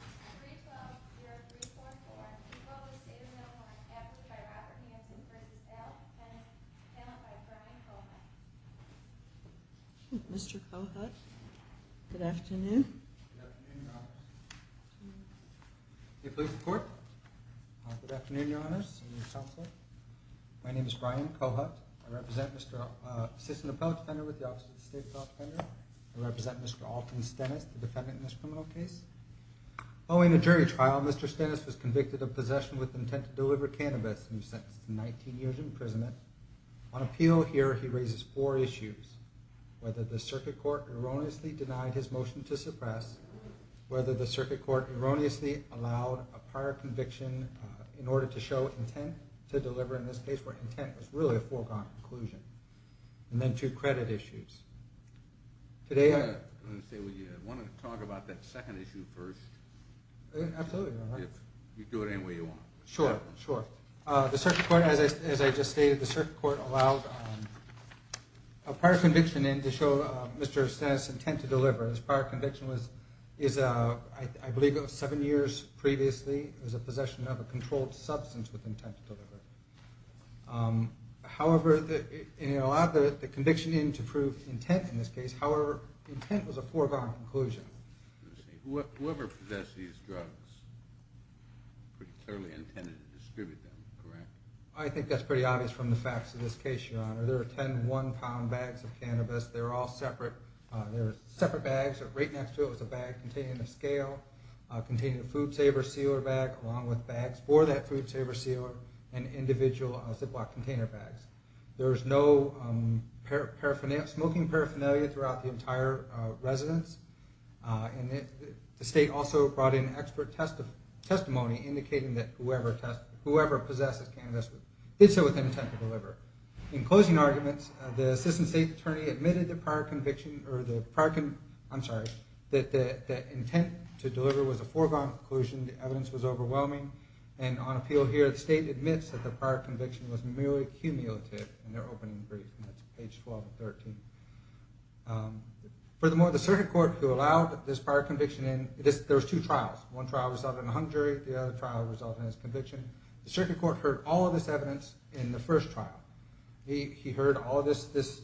312-344. Please follow the state of the law and act with the right of your hands in accordance with the statute of limitations of the United States Constitution. Defendant, Brian Kohut. Following the jury trial, Mr. Stennis was convicted of possession with intent to deliver cannabis and was sentenced to 19 years imprisonment. On appeal here, he raises four issues. Whether the circuit court erroneously denied his motion to suppress, whether the circuit court erroneously allowed a prior conviction in order to show intent to deliver in this case where intent was really a foregone conclusion. And then two credit issues. I want to talk about that second issue first. Absolutely. If you do it any way you want. Sure. The circuit court, as I just stated, the circuit court allowed a prior conviction in to show Mr. Stennis' intent to deliver. His prior conviction was, I believe, seven years previously. It was a possession of a controlled substance with intent to deliver. However, it allowed the conviction in to prove intent in this case. However, intent was a foregone conclusion. Whoever possessed these drugs clearly intended to distribute them, correct? I think that's pretty obvious from the facts of this case, Your Honor. There were ten one-pound bags of cannabis. They were all separate. They were separate bags. Right next to it was a bag containing a scale, containing a food saver sealer bag, along with bags for that food saver sealer, and individual Ziploc container bags. There was no smoking paraphernalia throughout the entire residence. The state also brought in expert testimony indicating that whoever possessed the cannabis did so with intent to deliver. In closing arguments, the assistant state attorney admitted that prior conviction, I'm sorry, that the intent to deliver was a foregone conclusion, the evidence was overwhelming, and on appeal here, the state admits that the prior conviction was merely cumulative in their opening brief. That's page 12 of 13. Furthermore, the circuit court who allowed this prior conviction in, there were two trials. One trial resulted in a hung jury. The other trial resulted in his conviction. The circuit court heard all of this evidence in the first trial. He heard all of this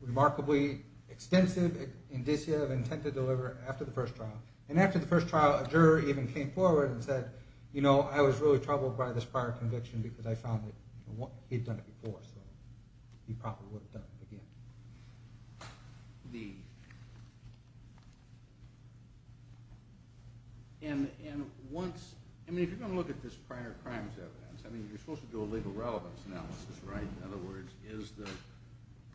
remarkably extensive indicia of intent to deliver after the first trial. And after the first trial, a juror even came forward and said, you know, I was really troubled by this prior conviction because I found that he had done it before, so he probably would have done it again. And once, I mean if you're going to look at this prior crimes evidence, I mean you're supposed to do a legal relevance analysis, right? In other words, is the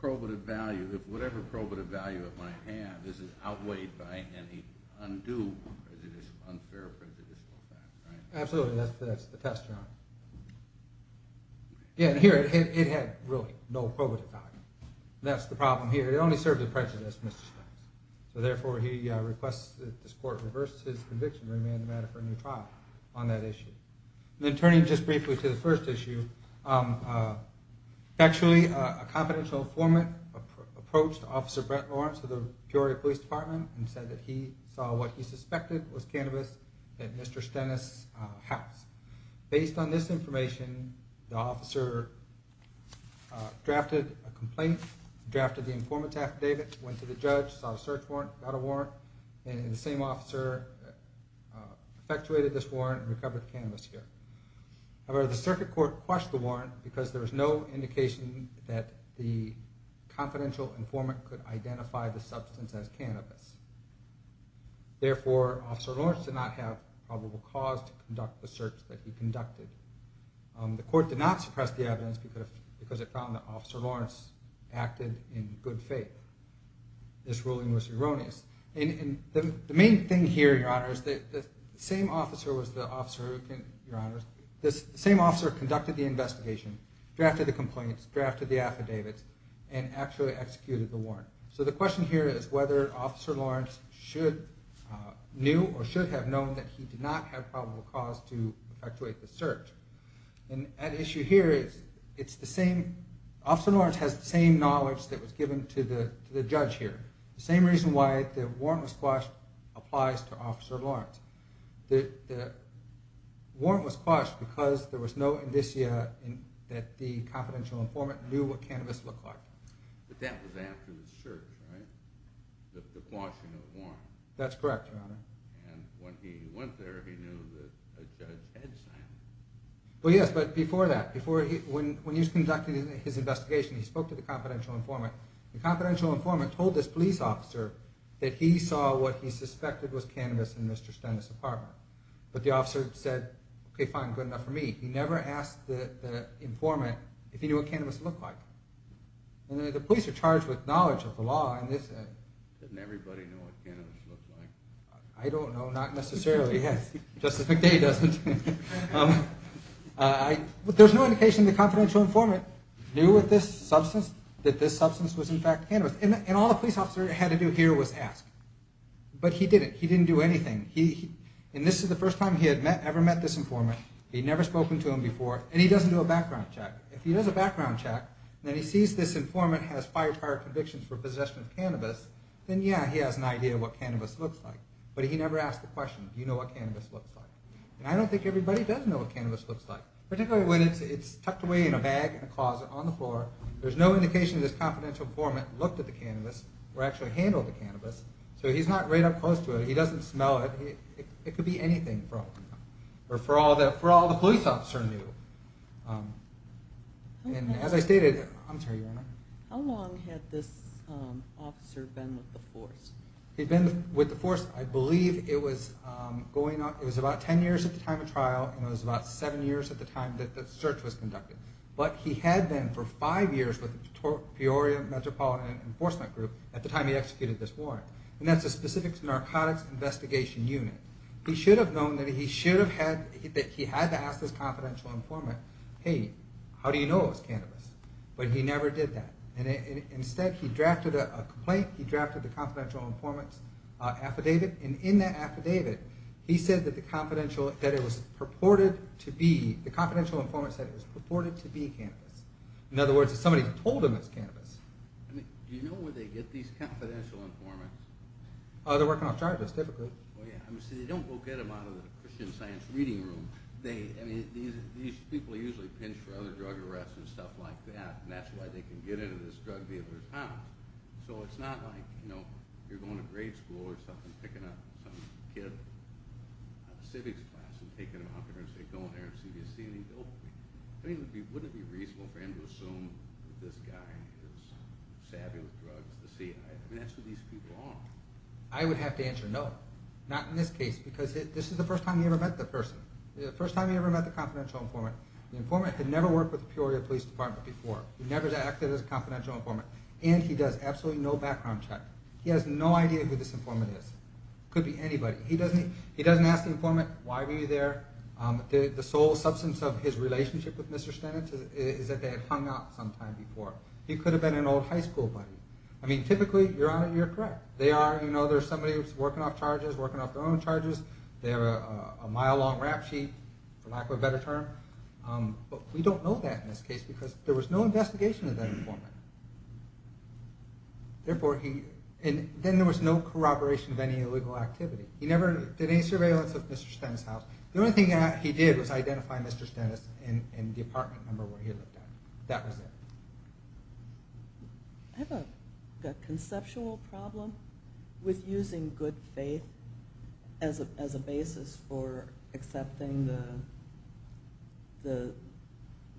probative value, whatever probative value it might have, is it outweighed by any undue unfair prejudicial fact, right? Absolutely, that's the test, John. And here, it had really no probative value. That's the problem here. It only served the prejudice of Mr. Stennis. So therefore, he requests that this court reverse his conviction and remand the matter for a new trial on that issue. Then turning just briefly to the first issue, actually a confidential informant approached Officer Brent Lawrence of the Peoria Police Department and said that he saw what he suspected was cannabis at Mr. Stennis' house. Based on this information, the officer drafted a complaint, drafted the informant affidavit, went to the judge, saw a search warrant, got a warrant, and the same officer effectuated this warrant and recovered the cannabis here. Therefore, Officer Lawrence did not have probable cause to conduct the search that he conducted. The court did not suppress the evidence because it found that Officer Lawrence acted in good faith. This ruling was erroneous. And the main thing here, Your Honor, is that the same officer conducted the investigation, drafted the complaints, drafted the affidavits, and actually executed the warrant. So the question here is whether Officer Lawrence knew or should have known that he did not have probable cause to effectuate the search. And at issue here, Officer Lawrence has the same knowledge that was given to the judge here. The same reason why the warrant was quashed applies to Officer Lawrence. The warrant was quashed because there was no indicia that the confidential informant knew what cannabis looked like. But that was after the search, right? The quashing of the warrant. That's correct, Your Honor. And when he went there, he knew that a judge had signed it. Well, yes, but before that, when he was conducting his investigation, he spoke to the confidential informant. The confidential informant told this police officer that he saw what he suspected was cannabis in Mr. Stennis' apartment. But the officer said, okay, fine, good enough for me. He never asked the informant if he knew what cannabis looked like. The police are charged with knowledge of the law. Didn't everybody know what cannabis looked like? I don't know, not necessarily. Justice McDay doesn't. There's no indication the confidential informant knew that this substance was in fact cannabis. And all the police officer had to do here was ask. But he didn't. He didn't do anything. And this is the first time he had ever met this informant. He had never spoken to him before. And he doesn't do a background check. If he does a background check and he sees this informant has prior convictions for possession of cannabis, then yeah, he has an idea of what cannabis looks like. But he never asked the question, do you know what cannabis looks like? And I don't think everybody does know what cannabis looks like. Particularly when it's tucked away in a bag in a closet on the floor. There's no indication this confidential informant looked at the cannabis or actually handled the cannabis. So he's not right up close to it. He doesn't smell it. It could be anything for all the police officer knew. And as I stated, I'm sorry, Your Honor. How long had this officer been with the force? He'd been with the force, I believe it was about ten years at the time of trial and it was about seven years at the time that the search was conducted. But he had been for five years with the Peoria Metropolitan Enforcement Group at the time he executed this warrant. And that's the Specific Narcotics Investigation Unit. He should have known that he had to ask this confidential informant, hey, how do you know it was cannabis? But he never did that. Instead he drafted a complaint, he drafted a confidential informant's affidavit, and in that affidavit he said that the confidential informant said it was purported to be cannabis. In other words, somebody told him it was cannabis. Do you know where they get these confidential informants? They're working off charges, typically. See, they don't go get them out of the Christian Science Reading Room. These people are usually pinched for other drug arrests and stuff like that, and that's why they can get into this drug dealer's house. So it's not like you're going to grade school or something and picking up some kid out of civics class and taking him out there and saying go in there and see if you see any dope. I mean, wouldn't it be reasonable for him to assume that this guy is savvy with drugs? I mean, that's who these people are. I would have to answer no. Not in this case, because this is the first time he ever met the person. The first time he ever met the confidential informant. The informant had never worked with the Peoria Police Department before. He never acted as a confidential informant, and he does absolutely no background check. He has no idea who this informant is. It could be anybody. He doesn't ask the informant, why were you there? The sole substance of his relationship with Mr. Stenitz is that they had hung out sometime before. He could have been an old high school buddy. I mean, typically, you're correct. There's somebody who's working off charges, working off their own charges. They have a mile-long rap sheet, for lack of a better term. But we don't know that in this case, because there was no investigation of that informant. Then there was no corroboration of any illegal activity. He never did any surveillance of Mr. Stenitz's house. The only thing he did was identify Mr. Stenitz and the apartment number where he lived at. That was it. I have a conceptual problem with using good faith as a basis for accepting the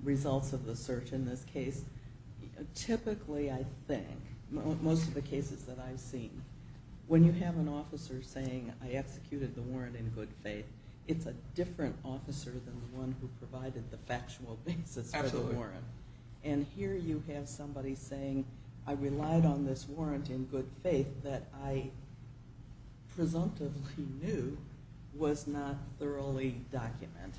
results of the search in this case. Typically, I think, most of the cases that I've seen, when you have an officer saying, I executed the warrant in good faith, it's a different officer than the one who provided the factual basis for the warrant. And here you have somebody saying, I relied on this warrant in good faith that I presumptively knew was not thoroughly documented.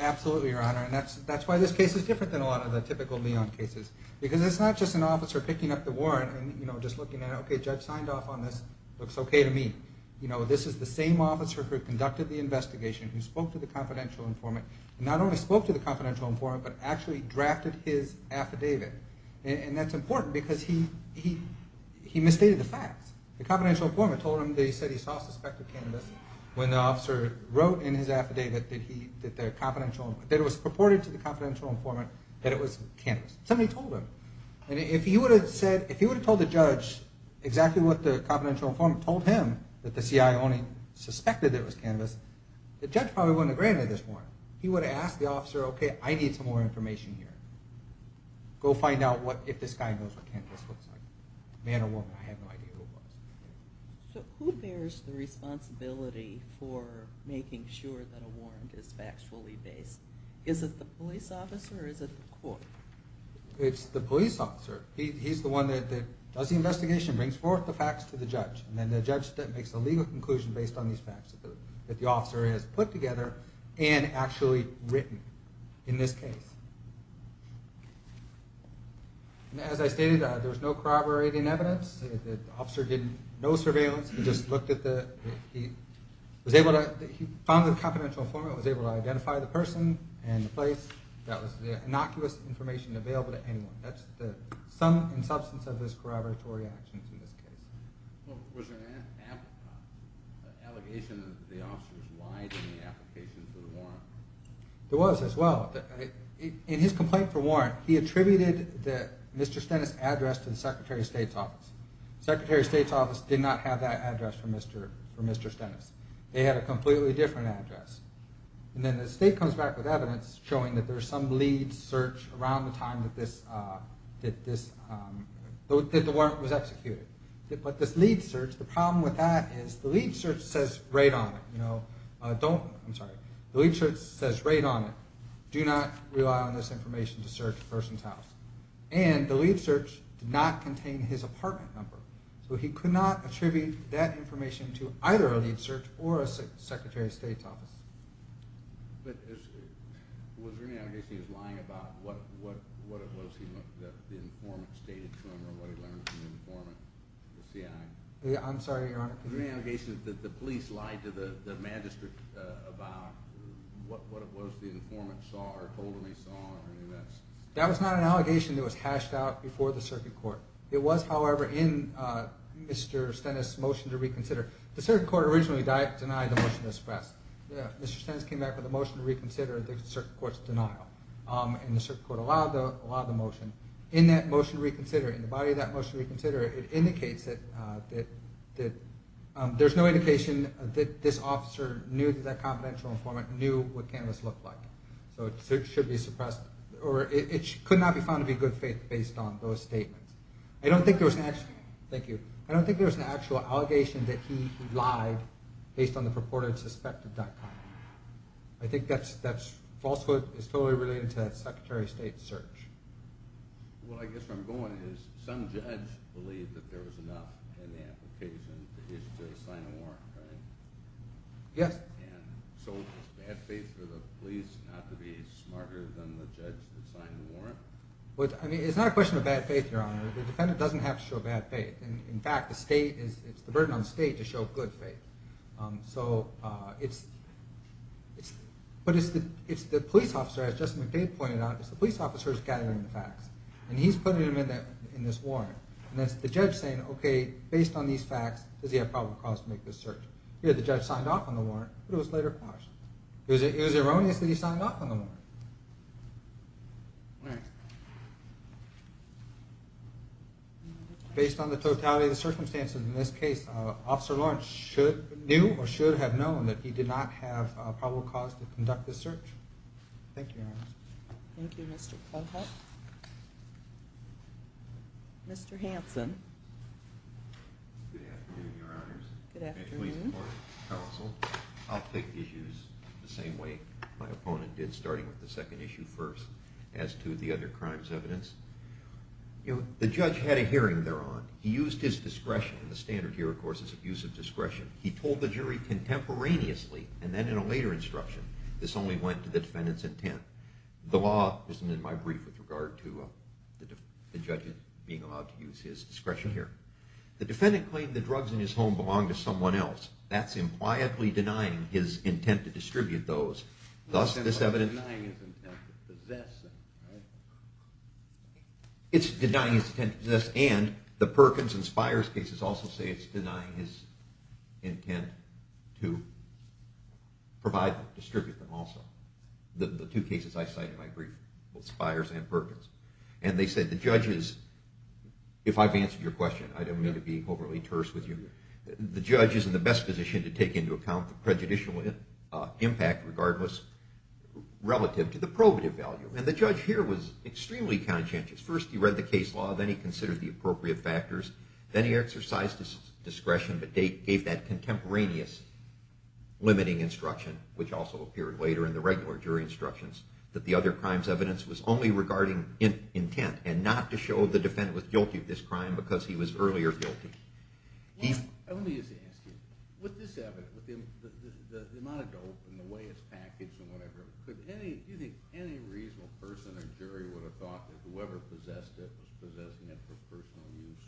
Absolutely, Your Honor. And that's why this case is different than a lot of the typical Leon cases. Because it's not just an officer picking up the warrant and just looking at it, okay, the judge signed off on this, looks okay to me. This is the same officer who conducted the investigation, who spoke to the confidential informant, and not only spoke to the confidential informant, but actually drafted his affidavit. And that's important, because he misstated the facts. The confidential informant told him that he said he saw suspected cannabis when the officer wrote in his affidavit that it was purported to the confidential informant that it was cannabis. Somebody told him. And if he would have told the judge exactly what the confidential informant told him, that the CI only suspected that it was cannabis, the judge probably wouldn't have granted this warrant. He would have asked the officer, okay, I need some more information here. Go find out if this guy knows what cannabis looks like. Man or woman, I have no idea who it was. So who bears the responsibility for making sure that a warrant is factually based? Is it the police officer or is it the court? It's the police officer. He's the one that does the investigation, brings forth the facts to the judge, and then the judge makes a legal conclusion based on these facts that the officer has put together and actually written in this case. And as I stated, there was no corroborating evidence. The officer did no surveillance. He just looked at the... he was able to... he found the confidential informant, was able to identify the person and the place. That was the innocuous information available to anyone. That's the sum and substance of his corroboratory actions in this case. Was there an allegation that the officer was lying in the application for the warrant? There was as well. In his complaint for warrant, he attributed the Mr. Stennis address to the Secretary of State's office. The Secretary of State's office did not have that address for Mr. Stennis. They had a completely different address. And then the state comes back with evidence showing that there's some lead search around the time that this... that the warrant was executed. But this lead search, the problem with that is the lead search says right on it. You know, don't... I'm sorry. The lead search says right on it. Do not rely on this information to search a person's house. And the lead search did not contain his apartment number. So he could not attribute that information to either a lead search or a Secretary of State's office. But was there any allegation that he was lying about what it was that the informant stated to him or what he learned from the informant, the CI? Yeah, I'm sorry, Your Honor. Was there any allegation that the police lied to the magistrate about what it was the informant saw or told him he saw? That was not an allegation that was hashed out before the circuit court. It was, however, in Mr. Stennis' motion to reconsider. The circuit court originally denied the motion to express. Yeah, Mr. Stennis came back with a motion to reconsider. The circuit court's denial. And the circuit court allowed the motion. In that motion to reconsider, in the body of that motion to reconsider, it indicates that there's no indication that this officer knew that that confidential informant knew what Candace looked like. So it should be suppressed. Or it could not be found to be good faith based on those statements. I don't think there was an actual... Thank you. I think that falsehood is totally related to that Secretary of State search. Well, I guess where I'm going is some judge believed that there was enough in the application for him to sign a warrant, right? Yes. And so it's bad faith for the police not to be smarter than the judge that signed the warrant? I mean, it's not a question of bad faith, Your Honor. The defendant doesn't have to show bad faith. In fact, it's the burden on the state to show good faith. So it's... But it's the police officer, as Justin McDade pointed out, it's the police officer who's gathering the facts. And he's putting them in this warrant. And that's the judge saying, okay, based on these facts, does he have probable cause to make this search? Here, the judge signed off on the warrant, but it was later passed. It was erroneously he signed off on the warrant. All right. Based on the totality of the circumstances in this case, Officer Lawrence knew or should have known that he did not have probable cause to conduct this search. Thank you, Your Honor. Thank you, Mr. Clubhouse. Mr. Hanson. Good afternoon, Your Honors. Good afternoon. Counsel, I'll take the issues the same way my opponent did, starting with the second issue first, as to the other crimes evidence. You know, the judge had a hearing thereon. He used his discretion. The standard here, of course, is abuse of discretion. He told the jury contemporaneously, and then in a later instruction, this only went to the defendant's intent. The law isn't in my brief with regard to the judge being allowed to use his discretion here. The defendant claimed the drugs in his home belonged to someone else. That's impliedly denying his intent to distribute those. Thus, this evidence… It's denying his intent to possess them, right? It's denying his intent to possess, and the Perkins and Spires cases also say it's denying his intent to provide them, distribute them also. The two cases I cite in my brief, both Spires and Perkins. And they said the judge is… If I've answered your question, I don't mean to be overly terse with you. The judge is in the best position to take into account the prejudicial impact, regardless, relative to the probative value. And the judge here was extremely conscientious. First, he read the case law. Then he considered the appropriate factors. Then he exercised his discretion, but gave that contemporaneous limiting instruction, which also appeared later in the regular jury instructions, that the other crime's evidence was only regarding intent, and not to show the defendant was guilty of this crime because he was earlier guilty. Let me just ask you. With this evidence, with the amount of dope and the way it's packaged and whatever, do you think any reasonable person or jury would have thought that whoever possessed it was possessing it for personal use?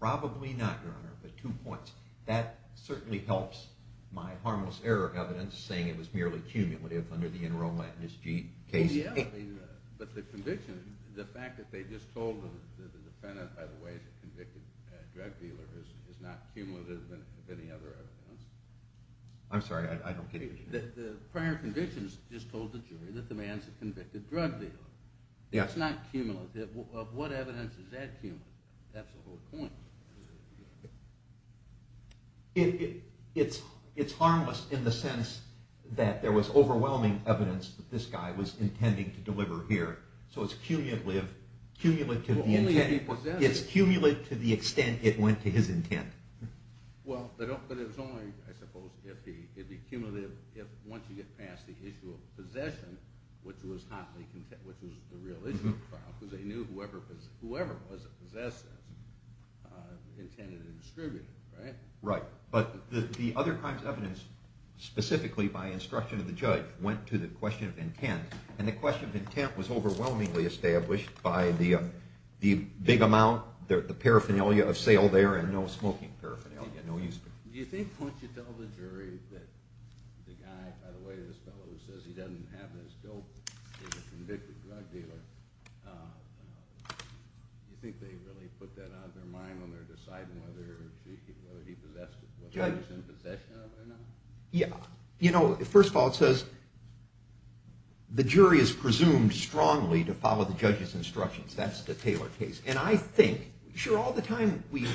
Probably not, Your Honor, but two points. That certainly helps my harmless error evidence, saying it was merely cumulative under the Enro Latinus G case. Yeah, but the conviction, the fact that they just told the defendant, by the way, he's a convicted drug dealer, is not cumulative with any other evidence. I'm sorry, I don't get it. The prior convictions just told the jury that the man's a convicted drug dealer. That's not cumulative. Of what evidence is that cumulative? That's the whole point. It's harmless in the sense that there was overwhelming evidence that this guy was intending to deliver here, so it's cumulative to the extent it went to his intent. Well, but it's only, I suppose, if once you get past the issue of possession, which was the real issue of the trial, because they knew whoever possessed it intended to distribute it, right? Right, but the other crimes evidence, specifically by instruction of the judge, went to the question of intent, and the question of intent was overwhelmingly established by the big amount, the paraphernalia of sale there and no smoking paraphernalia. Do you think once you tell the jury that the guy, by the way, this fellow who says he doesn't have this dope, he's a convicted drug dealer, do you think they really put that out of their mind when they're deciding whether he possessed it, whether he's in possession of it or not? Yeah, you know, first of all, it says the jury is presumed strongly to follow the judge's instructions. That's the Taylor case, and I think, sure, all the time we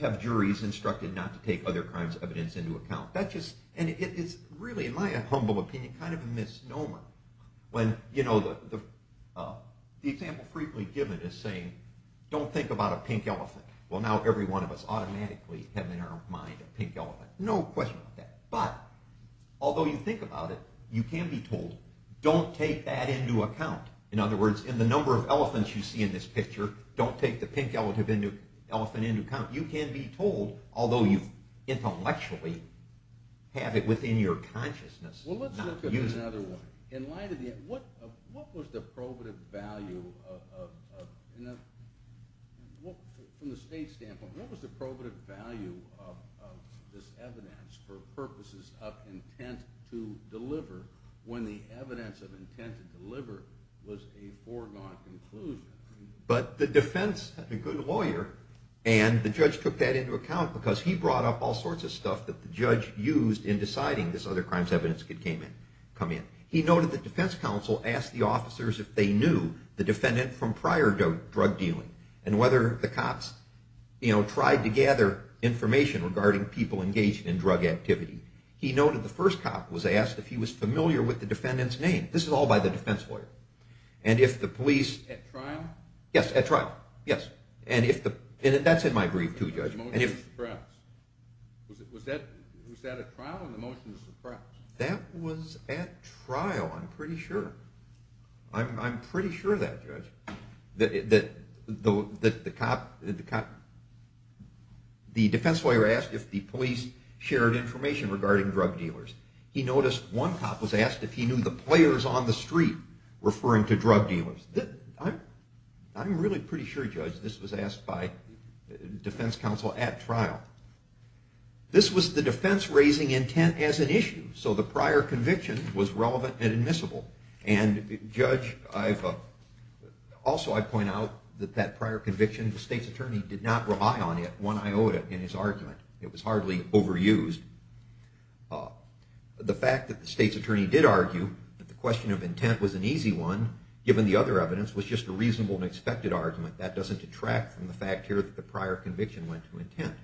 have juries instructed not to take other crimes evidence into account. That's just, and it is really, in my humble opinion, kind of a misnomer when, you know, the example frequently given is saying, don't think about a pink elephant. Well, now every one of us automatically have in our mind a pink elephant. No question about that, but although you think about it, you can be told, don't take that into account. In other words, in the number of elephants you see in this picture, don't take the pink elephant into account. You can be told, although you intellectually have it within your consciousness. Well, let's look at it another way. In light of the, what was the probative value of, from the state standpoint, what was the probative value of this evidence for purposes of intent to deliver when the evidence of intent to deliver was a foregone conclusion? But the defense had a good lawyer, and the judge took that into account because he brought up all sorts of stuff that the judge used in deciding this other crimes evidence could come in. He noted the defense counsel asked the officers if they knew the defendant from prior drug dealing and whether the cops, you know, tried to gather information regarding people engaged in drug activity. He noted the first cop was asked if he was familiar with the defendant's name. This is all by the defense lawyer. And if the police... At trial? Yes, at trial. Yes. And that's in my brief too, Judge. Was that at trial or the motion was suppressed? I'm pretty sure of that, Judge. The defense lawyer asked if the police shared information regarding drug dealers. He noticed one cop was asked if he knew the players on the street referring to drug dealers. I'm really pretty sure, Judge, this was asked by defense counsel at trial. This was the defense raising intent as an issue, so the prior conviction was relevant and admissible. And, Judge, also I point out that that prior conviction, the state's attorney did not rely on it. One, I owed it in his argument. It was hardly overused. The fact that the state's attorney did argue that the question of intent was an easy one, given the other evidence, was just a reasonable and expected argument. That doesn't detract from the fact here that the prior conviction went to intent.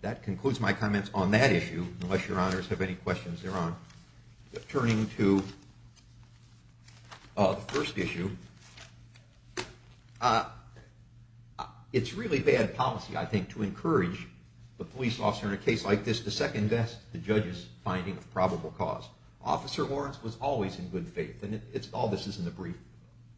That concludes my comments on that issue, unless your honors have any questions thereon. Turning to the first issue, it's really bad policy, I think, to encourage the police officer in a case like this to second-guess the judge's finding of probable cause. Officer Lawrence was always in good faith, and all this is in the brief,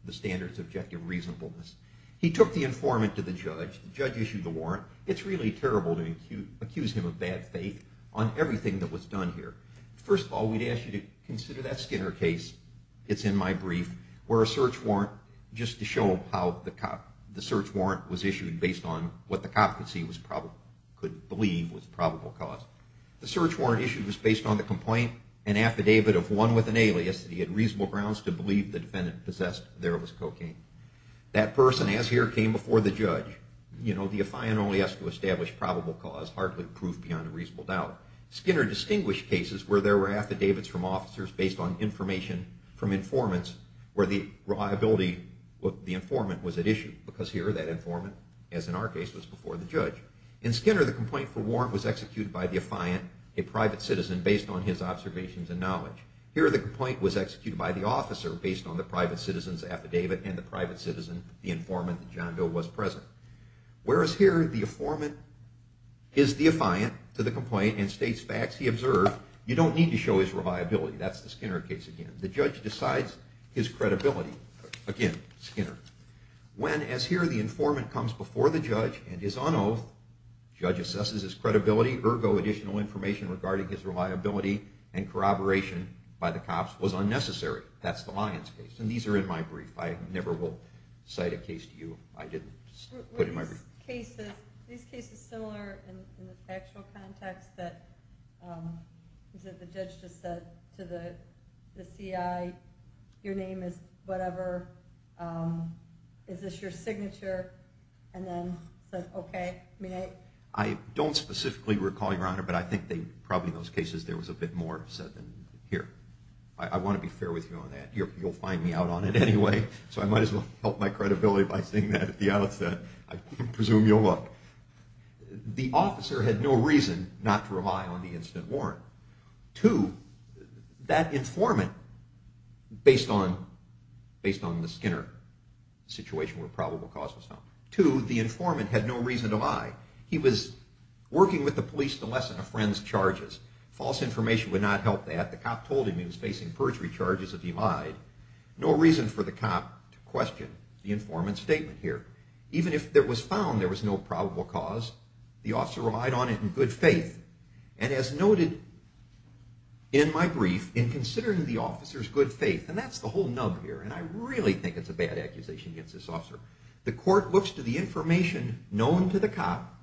the standards of objective reasonableness. He took the informant to the judge. The judge issued the warrant. It's really terrible to accuse him of bad faith on everything that was done here. First of all, we'd ask you to consider that Skinner case. It's in my brief, where a search warrant, just to show how the search warrant was issued based on what the cop could believe was probable cause. The search warrant issued was based on the complaint and affidavit of one with an alias that he had reasonable grounds to believe the defendant possessed and there was cocaine. That person, as here, came before the judge. You know, the affiant only has to establish probable cause, hardly proof beyond a reasonable doubt. Skinner distinguished cases where there were affidavits from officers based on information from informants where the informant was at issue, because here, that informant, as in our case, was before the judge. In Skinner, the complaint for warrant was executed by the affiant, a private citizen, based on his observations and knowledge. Here, the complaint was executed by the officer based on the private citizen's affidavit and the private citizen, the informant that John Doe was present. Whereas here, the informant is the affiant to the complaint and states facts he observed, you don't need to show his reliability. That's the Skinner case again. The judge decides his credibility. Again, Skinner. When, as here, the informant comes before the judge and is on oath, the judge assesses his credibility, ergo additional information regarding his reliability and corroboration by the cops was unnecessary. That's the Lyons case, and these are in my brief. I never will cite a case to you. I didn't put it in my brief. Were these cases similar in the actual context that the judge just said to the CI, your name is whatever, is this your signature, and then said, okay. I don't specifically recall, Your Honor, but I think probably in those cases there was a bit more said than here. I want to be fair with you on that. You'll find me out on it anyway, so I might as well help my credibility by saying that at the outset. I presume you'll look. The officer had no reason not to rely on the incident warrant. Two, that informant, based on the Skinner situation where probable cause was found. Two, the informant had no reason to lie. He was working with the police to lessen a friend's charges. False information would not help that. The cop told him he was facing perjury charges if he lied. No reason for the cop to question the informant's statement here. Even if it was found there was no probable cause, the officer relied on it in good faith. And as noted in my brief, in considering the officer's good faith, and that's the whole nub here, and I really think it's a bad accusation against this officer, the court looks to the information known to the cop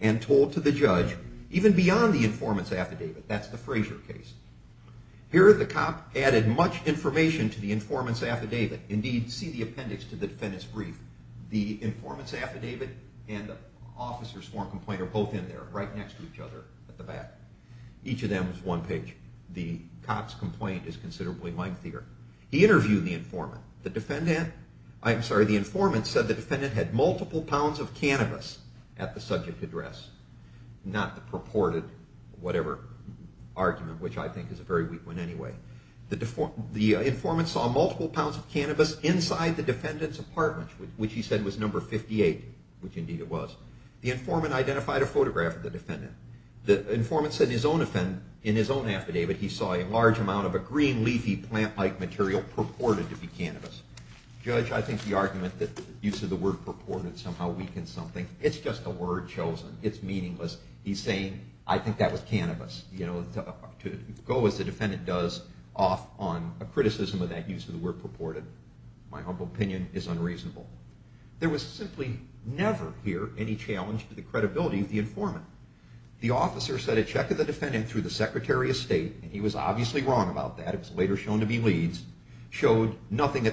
and told to the judge, even beyond the informant's affidavit. That's the Frazier case. Here the cop added much information to the informant's affidavit. Indeed, see the appendix to the defendant's brief. The informant's affidavit and the officer's form complaint are both in there, right next to each other at the back. Each of them is one page. The cop's complaint is considerably lengthier. He interviewed the informant. The informant said the defendant had multiple pounds of cannabis at the subject address, not the purported, whatever argument, which I think is a very weak one anyway. The informant saw multiple pounds of cannabis inside the defendant's apartment, which he said was number 58, which indeed it was. The informant identified a photograph of the defendant. The informant said in his own affidavit he saw a large amount of a green leafy plant-like material purported to be cannabis. Judge, I think the argument that the use of the word purported somehow weakens something. It's just a word chosen. It's meaningless. He's saying, I think that was cannabis, to go, as the defendant does, off on a criticism of that use of the word purported. My humble opinion is unreasonable. There was simply never here any challenge to the credibility of the informant. The officer sent a check to the defendant through the secretary of state, and he was obviously wrong about that. It was later shown to be leads. Showed the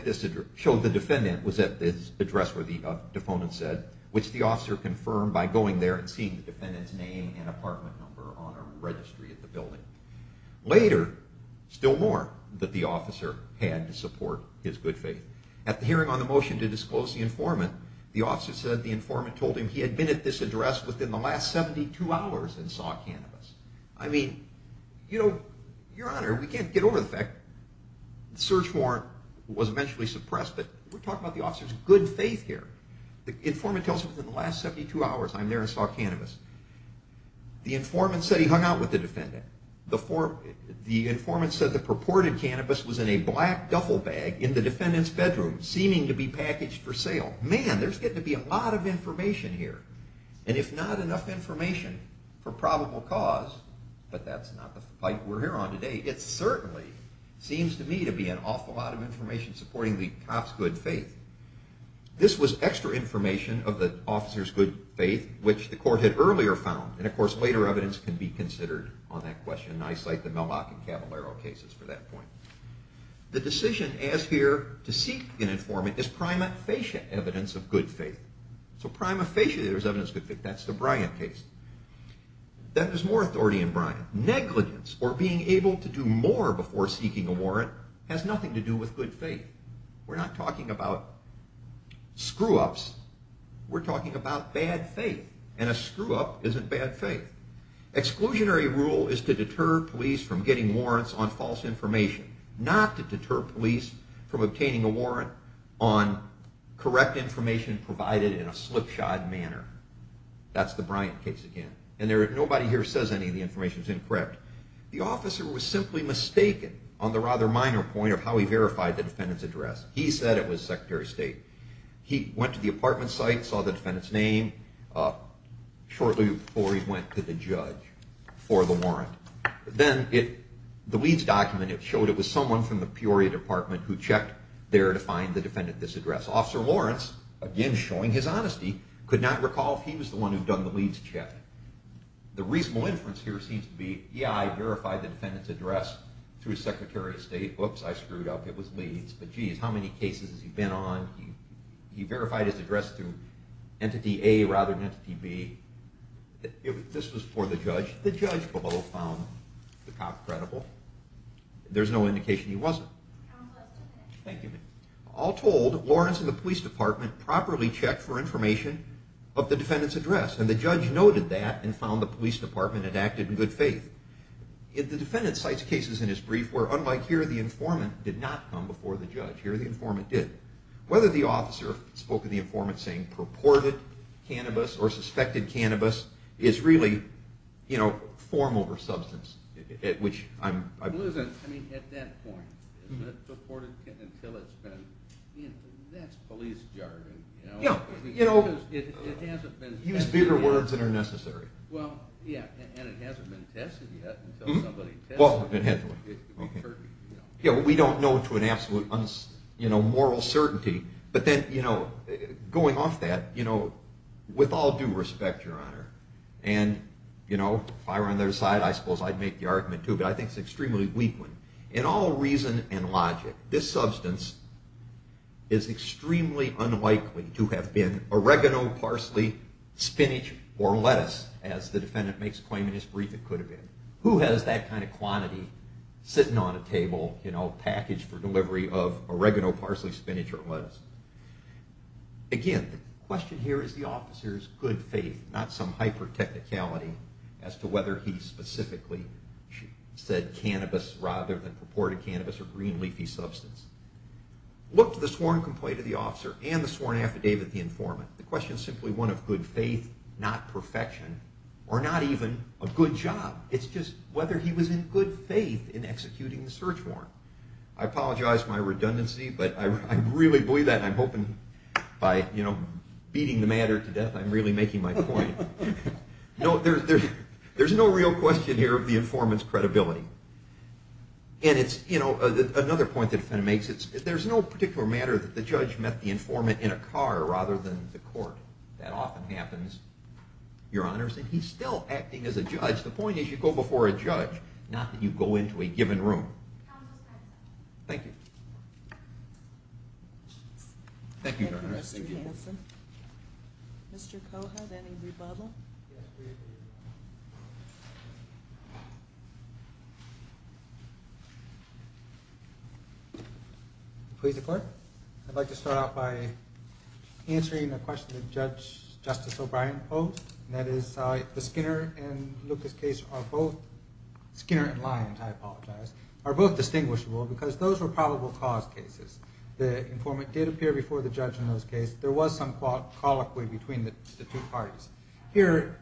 defendant was at this address where the defendant said, which the officer confirmed by going there and seeing the defendant's name and apartment number on a registry at the building. Later, still more, that the officer had to support his good faith. At the hearing on the motion to disclose the informant, the officer said the informant told him he had been at this address within the last 72 hours and saw cannabis. I mean, you know, your honor, we can't get over the fact, the search warrant was eventually suppressed, but we're talking about the officer's good faith here. The informant tells him within the last 72 hours I'm there and saw cannabis. The informant said he hung out with the defendant. The informant said the purported cannabis was in a black duffel bag in the defendant's bedroom, seeming to be packaged for sale. Man, there's getting to be a lot of information here. And if not enough information for probable cause, but that's not the fight we're here on today, it certainly seems to me to be an awful lot of information supporting the cop's good faith. This was extra information of the officer's good faith, which the court had earlier found. And, of course, later evidence can be considered on that question. I cite the Melbach and Cavallaro cases for that point. The decision as here to seek an informant is prima facie evidence of good faith. So prima facie there's evidence of good faith. That's the Bryant case. Then there's more authority in Bryant. Negligence, or being able to do more before seeking a warrant, has nothing to do with good faith. We're not talking about screw-ups. We're talking about bad faith. And a screw-up isn't bad faith. Exclusionary rule is to deter police from getting warrants on false information, not to deter police from obtaining a warrant on correct information provided in a slipshod manner. That's the Bryant case again. And nobody here says any of the information is incorrect. The officer was simply mistaken on the rather minor point of how he verified the defendant's address. He said it was Secretary of State. He went to the apartment site, saw the defendant's name, shortly before he went to the judge for the warrant. Then the Leeds document showed it was someone from the Peoria Department who checked there to find the defendant this address. Officer Lawrence, again showing his honesty, could not recall if he was the one who'd done the Leeds check. The reasonable inference here seems to be, yeah, I verified the defendant's address through Secretary of State. Whoops, I screwed up. It was Leeds. But geez, how many cases has he been on? He verified his address through Entity A rather than Entity B. This was for the judge. The judge below found the cop credible. There's no indication he wasn't. Thank you. All told, Lawrence and the police department properly checked for information of the defendant's address. And the judge noted that and found the police department had acted in good faith. The defendant cites cases in his brief where, unlike here, the informant did not come before the judge. Here the informant did. Whether the officer spoke to the informant saying purported cannabis or suspected cannabis is really form over substance. At that point, is it purported until it's been, that's police jargon. Use bigger words than are necessary. And it hasn't been tested yet until somebody tested it. We don't know to an absolute moral certainty. But then going off that, with all due respect, Your Honor, and if I were on their side, I suppose I'd make the argument too, but I think it's an extremely weak one. In all reason and logic, this substance is extremely unlikely to have been oregano, parsley, spinach, or lettuce, as the defendant makes claim in his brief it could have been. Who has that kind of quantity sitting on a table, packaged for delivery of oregano, parsley, spinach, or lettuce? Again, the question here is the officer's good faith, not some hyper-technicality as to whether he specifically said cannabis rather than purported cannabis or green leafy substance. Look to the sworn complaint of the officer and the sworn affidavit of the informant. The question is simply one of good faith, not perfection, or not even a good job. It's just whether he was in good faith in executing the search warrant. I apologize for my redundancy, but I really believe that, and I'm hoping by beating the matter to death I'm really making my point. There's no real question here of the informant's credibility. And another point the defendant makes, there's no particular matter that the judge met the informant in a car rather than the court. That often happens, Your Honor, and he's still acting as a judge. The point is you go before a judge, not that you go into a given room. Thank you. Thank you, Your Honor. Thank you, Mr. Hanson. Mr. Cohut, any rebuttal? Please declare. I'd like to start off by answering a question that Justice O'Brien posed, and that is the Skinner and Lucas case are both, Skinner and Lyons, I apologize, are both distinguishable because those were probable cause cases. The informant did appear before the judge in those cases. There was some colloquy between the two parties. Here,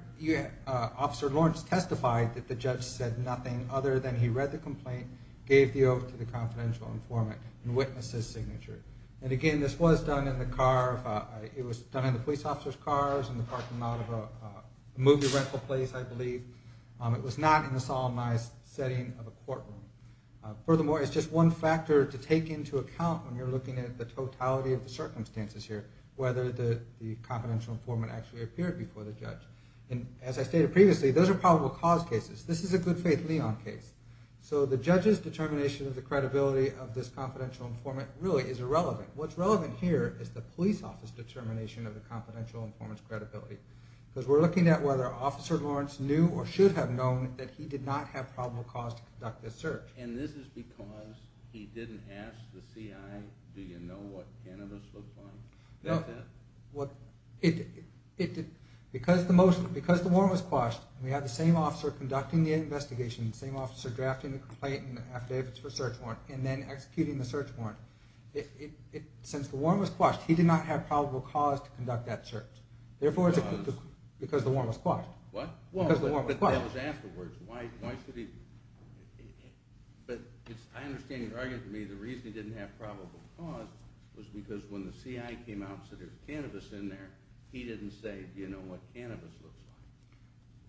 Officer Lawrence testified that the judge said nothing other than he read the complaint, gave the oath to the confidential informant, and witnessed his signature. And again, this was done in the car, it was done in the police officer's car, it was in the parking lot of a movie rental place, I believe. It was not in a solemnized setting of a courtroom. Furthermore, it's just one factor to take into account when you're looking at the totality of the circumstances here, whether the confidential informant actually appeared before the judge. And as I stated previously, those are probable cause cases. This is a good faith Lyons case. So the judge's determination of the credibility of this confidential informant really is irrelevant. What's relevant here is the police office determination of the confidential informant's credibility. Because we're looking at whether Officer Lawrence knew or should have known that he did not have probable cause to conduct this search. And this is because he didn't ask the CI, do you know what cannabis looks like? No. Because the warrant was quashed, we had the same officer conducting the investigation, the same officer drafting the complaint and the affidavits for search warrant, and then executing the search warrant. Since the warrant was quashed, he did not have probable cause to conduct that search. Because? Because the warrant was quashed. What? Because the warrant was quashed. But that was afterwards. Why should he... But I understand you're arguing to me the reason he didn't have probable cause was because when the CI came out and said there was cannabis in there, he didn't say, do you know what cannabis looks like?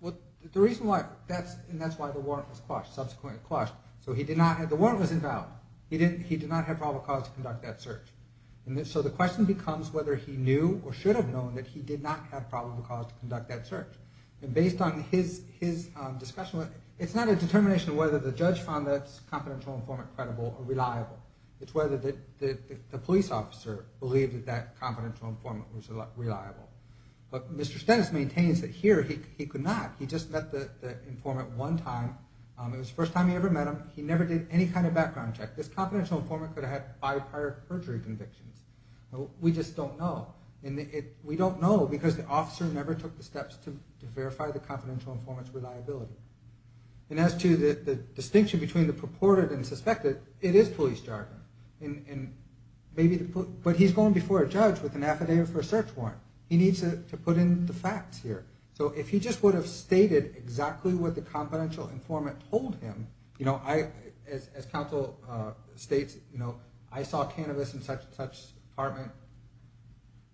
Well, the reason why, and that's why the warrant was quashed, subsequently quashed. So he did not have... The warrant was invalid. He did not have probable cause to conduct that search. And so the question becomes whether he knew or should have known that he did not have probable cause to conduct that search. And based on his discussion with... It's not a determination of whether the judge found that confidential informant credible or reliable. It's whether the police officer believed that that confidential informant was reliable. But Mr. Stennis maintains that here he could not. He just met the informant one time. It was the first time he ever met him. He never did any kind of background check. This confidential informant could have had by prior perjury convictions. We just don't know. We don't know because the officer never took the steps to verify the confidential informant's reliability. And as to the distinction between the purported and suspected, it is police jargon. But he's going before a judge with an affidavit for a search warrant. He needs to put in the facts here. So if he just would have stated exactly what the confidential informant told him, as counsel states, I saw cannabis in such-and-such apartment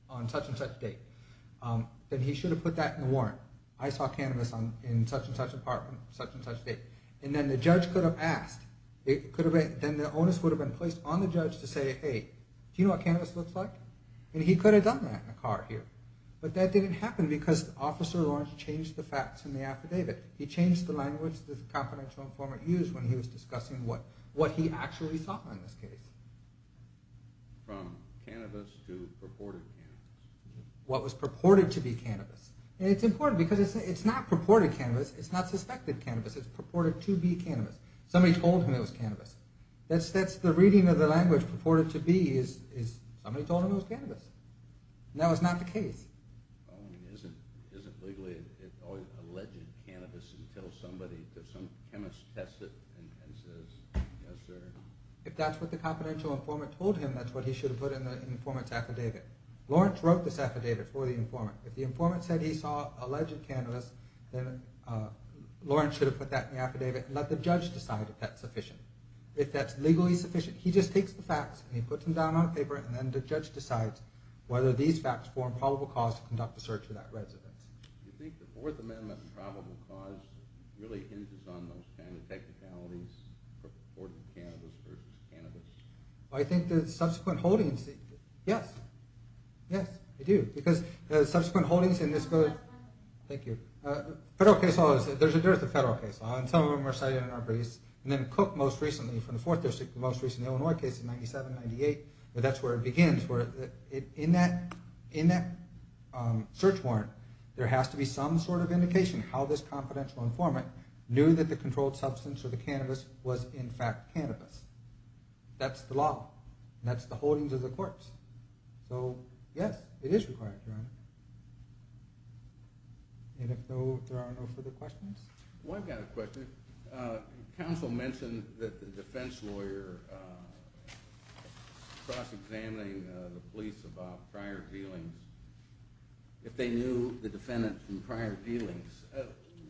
on such-and-such date. Then he should have put that in the warrant. I saw cannabis in such-and-such apartment on such-and-such date. And then the judge could have asked. Then the onus would have been placed on the judge to say, hey, do you know what cannabis looks like? And he could have done that in the car here. But that didn't happen because Officer Lawrence changed the facts in the affidavit. He changed the language the confidential informant used when he was discussing what he actually saw in this case. From cannabis to purported cannabis. What was purported to be cannabis. And it's important because it's not purported cannabis. It's not suspected cannabis. It's purported to be cannabis. Somebody told him it was cannabis. That's the reading of the language, purported to be, is somebody told him it was cannabis. And that was not the case. Well, I mean, isn't legally it's always alleged cannabis until somebody, some chemist tests it and says, yes sir. If that's what the confidential informant told him, that's what he should have put in the informant's affidavit. Lawrence wrote this affidavit for the informant. If the informant said he saw alleged cannabis, then Lawrence should have put that in the affidavit and let the judge decide if that's sufficient. If that's legally sufficient, he just takes the facts and he puts them down on a paper and then the judge decides whether these facts form probable cause to conduct a search for that resident. Do you think the Fourth Amendment probable cause really hinges on those technicalities, purported cannabis versus cannabis? I think the subsequent holdings, yes, yes, I do. Because the subsequent holdings in this go to, thank you, federal case law, there's a dearth of federal case law and some of them are cited in our briefs. And then Cook most recently, from the Fourth District, the most recent Illinois case in 97, 98, that's where it begins. In that search warrant, there has to be some sort of indication how this confidential informant knew that the controlled substance or the cannabis was in fact cannabis. That's the law. That's the holdings of the courts. Yes, it is required, Your Honor. And if there are no further questions? One kind of question. Counsel mentioned that the defense lawyer was cross-examining the police about prior dealings. If they knew the defendant from prior dealings,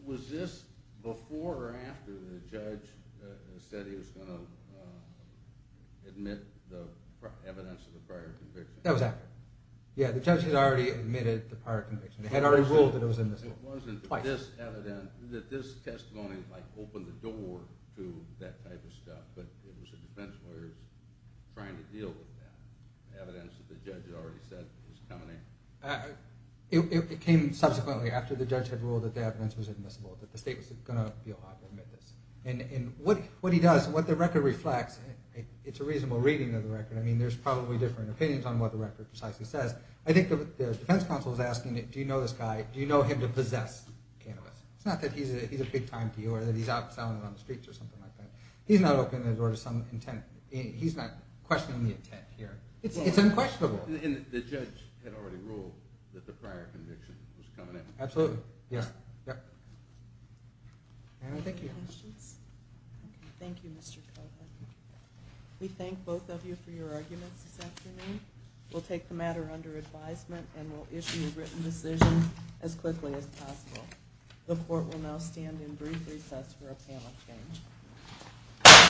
was this before or after the judge said he was going to admit the evidence of the prior conviction? That was after. Yeah, the judge had already admitted the prior conviction. He had already ruled that it was in this case. It wasn't this testimony that opened the door to that type of stuff, but it was the defense lawyers trying to deal with that evidence that the judge had already said was coming in. It came subsequently, after the judge had ruled that the evidence was admissible, that the state was going to be allowed to admit this. And what he does, what the record reflects, it's a reasonable reading of the record. I mean, there's probably different opinions on what the record precisely says. I think the defense counsel is asking, do you know this guy? Do you know him to possess cannabis? It's not that he's a big time dealer that he's out selling it on the streets or something like that. He's not opening the door to some intent. He's not questioning the intent here. It's unquestionable. And the judge had already ruled that the prior conviction was coming in. Absolutely. Any other questions? Thank you, Mr. Kovner. We thank both of you for your arguments this afternoon. We'll take the matter under advisement and we'll issue a written decision as quickly as possible. The court will now stand in brief recess for a panel exchange.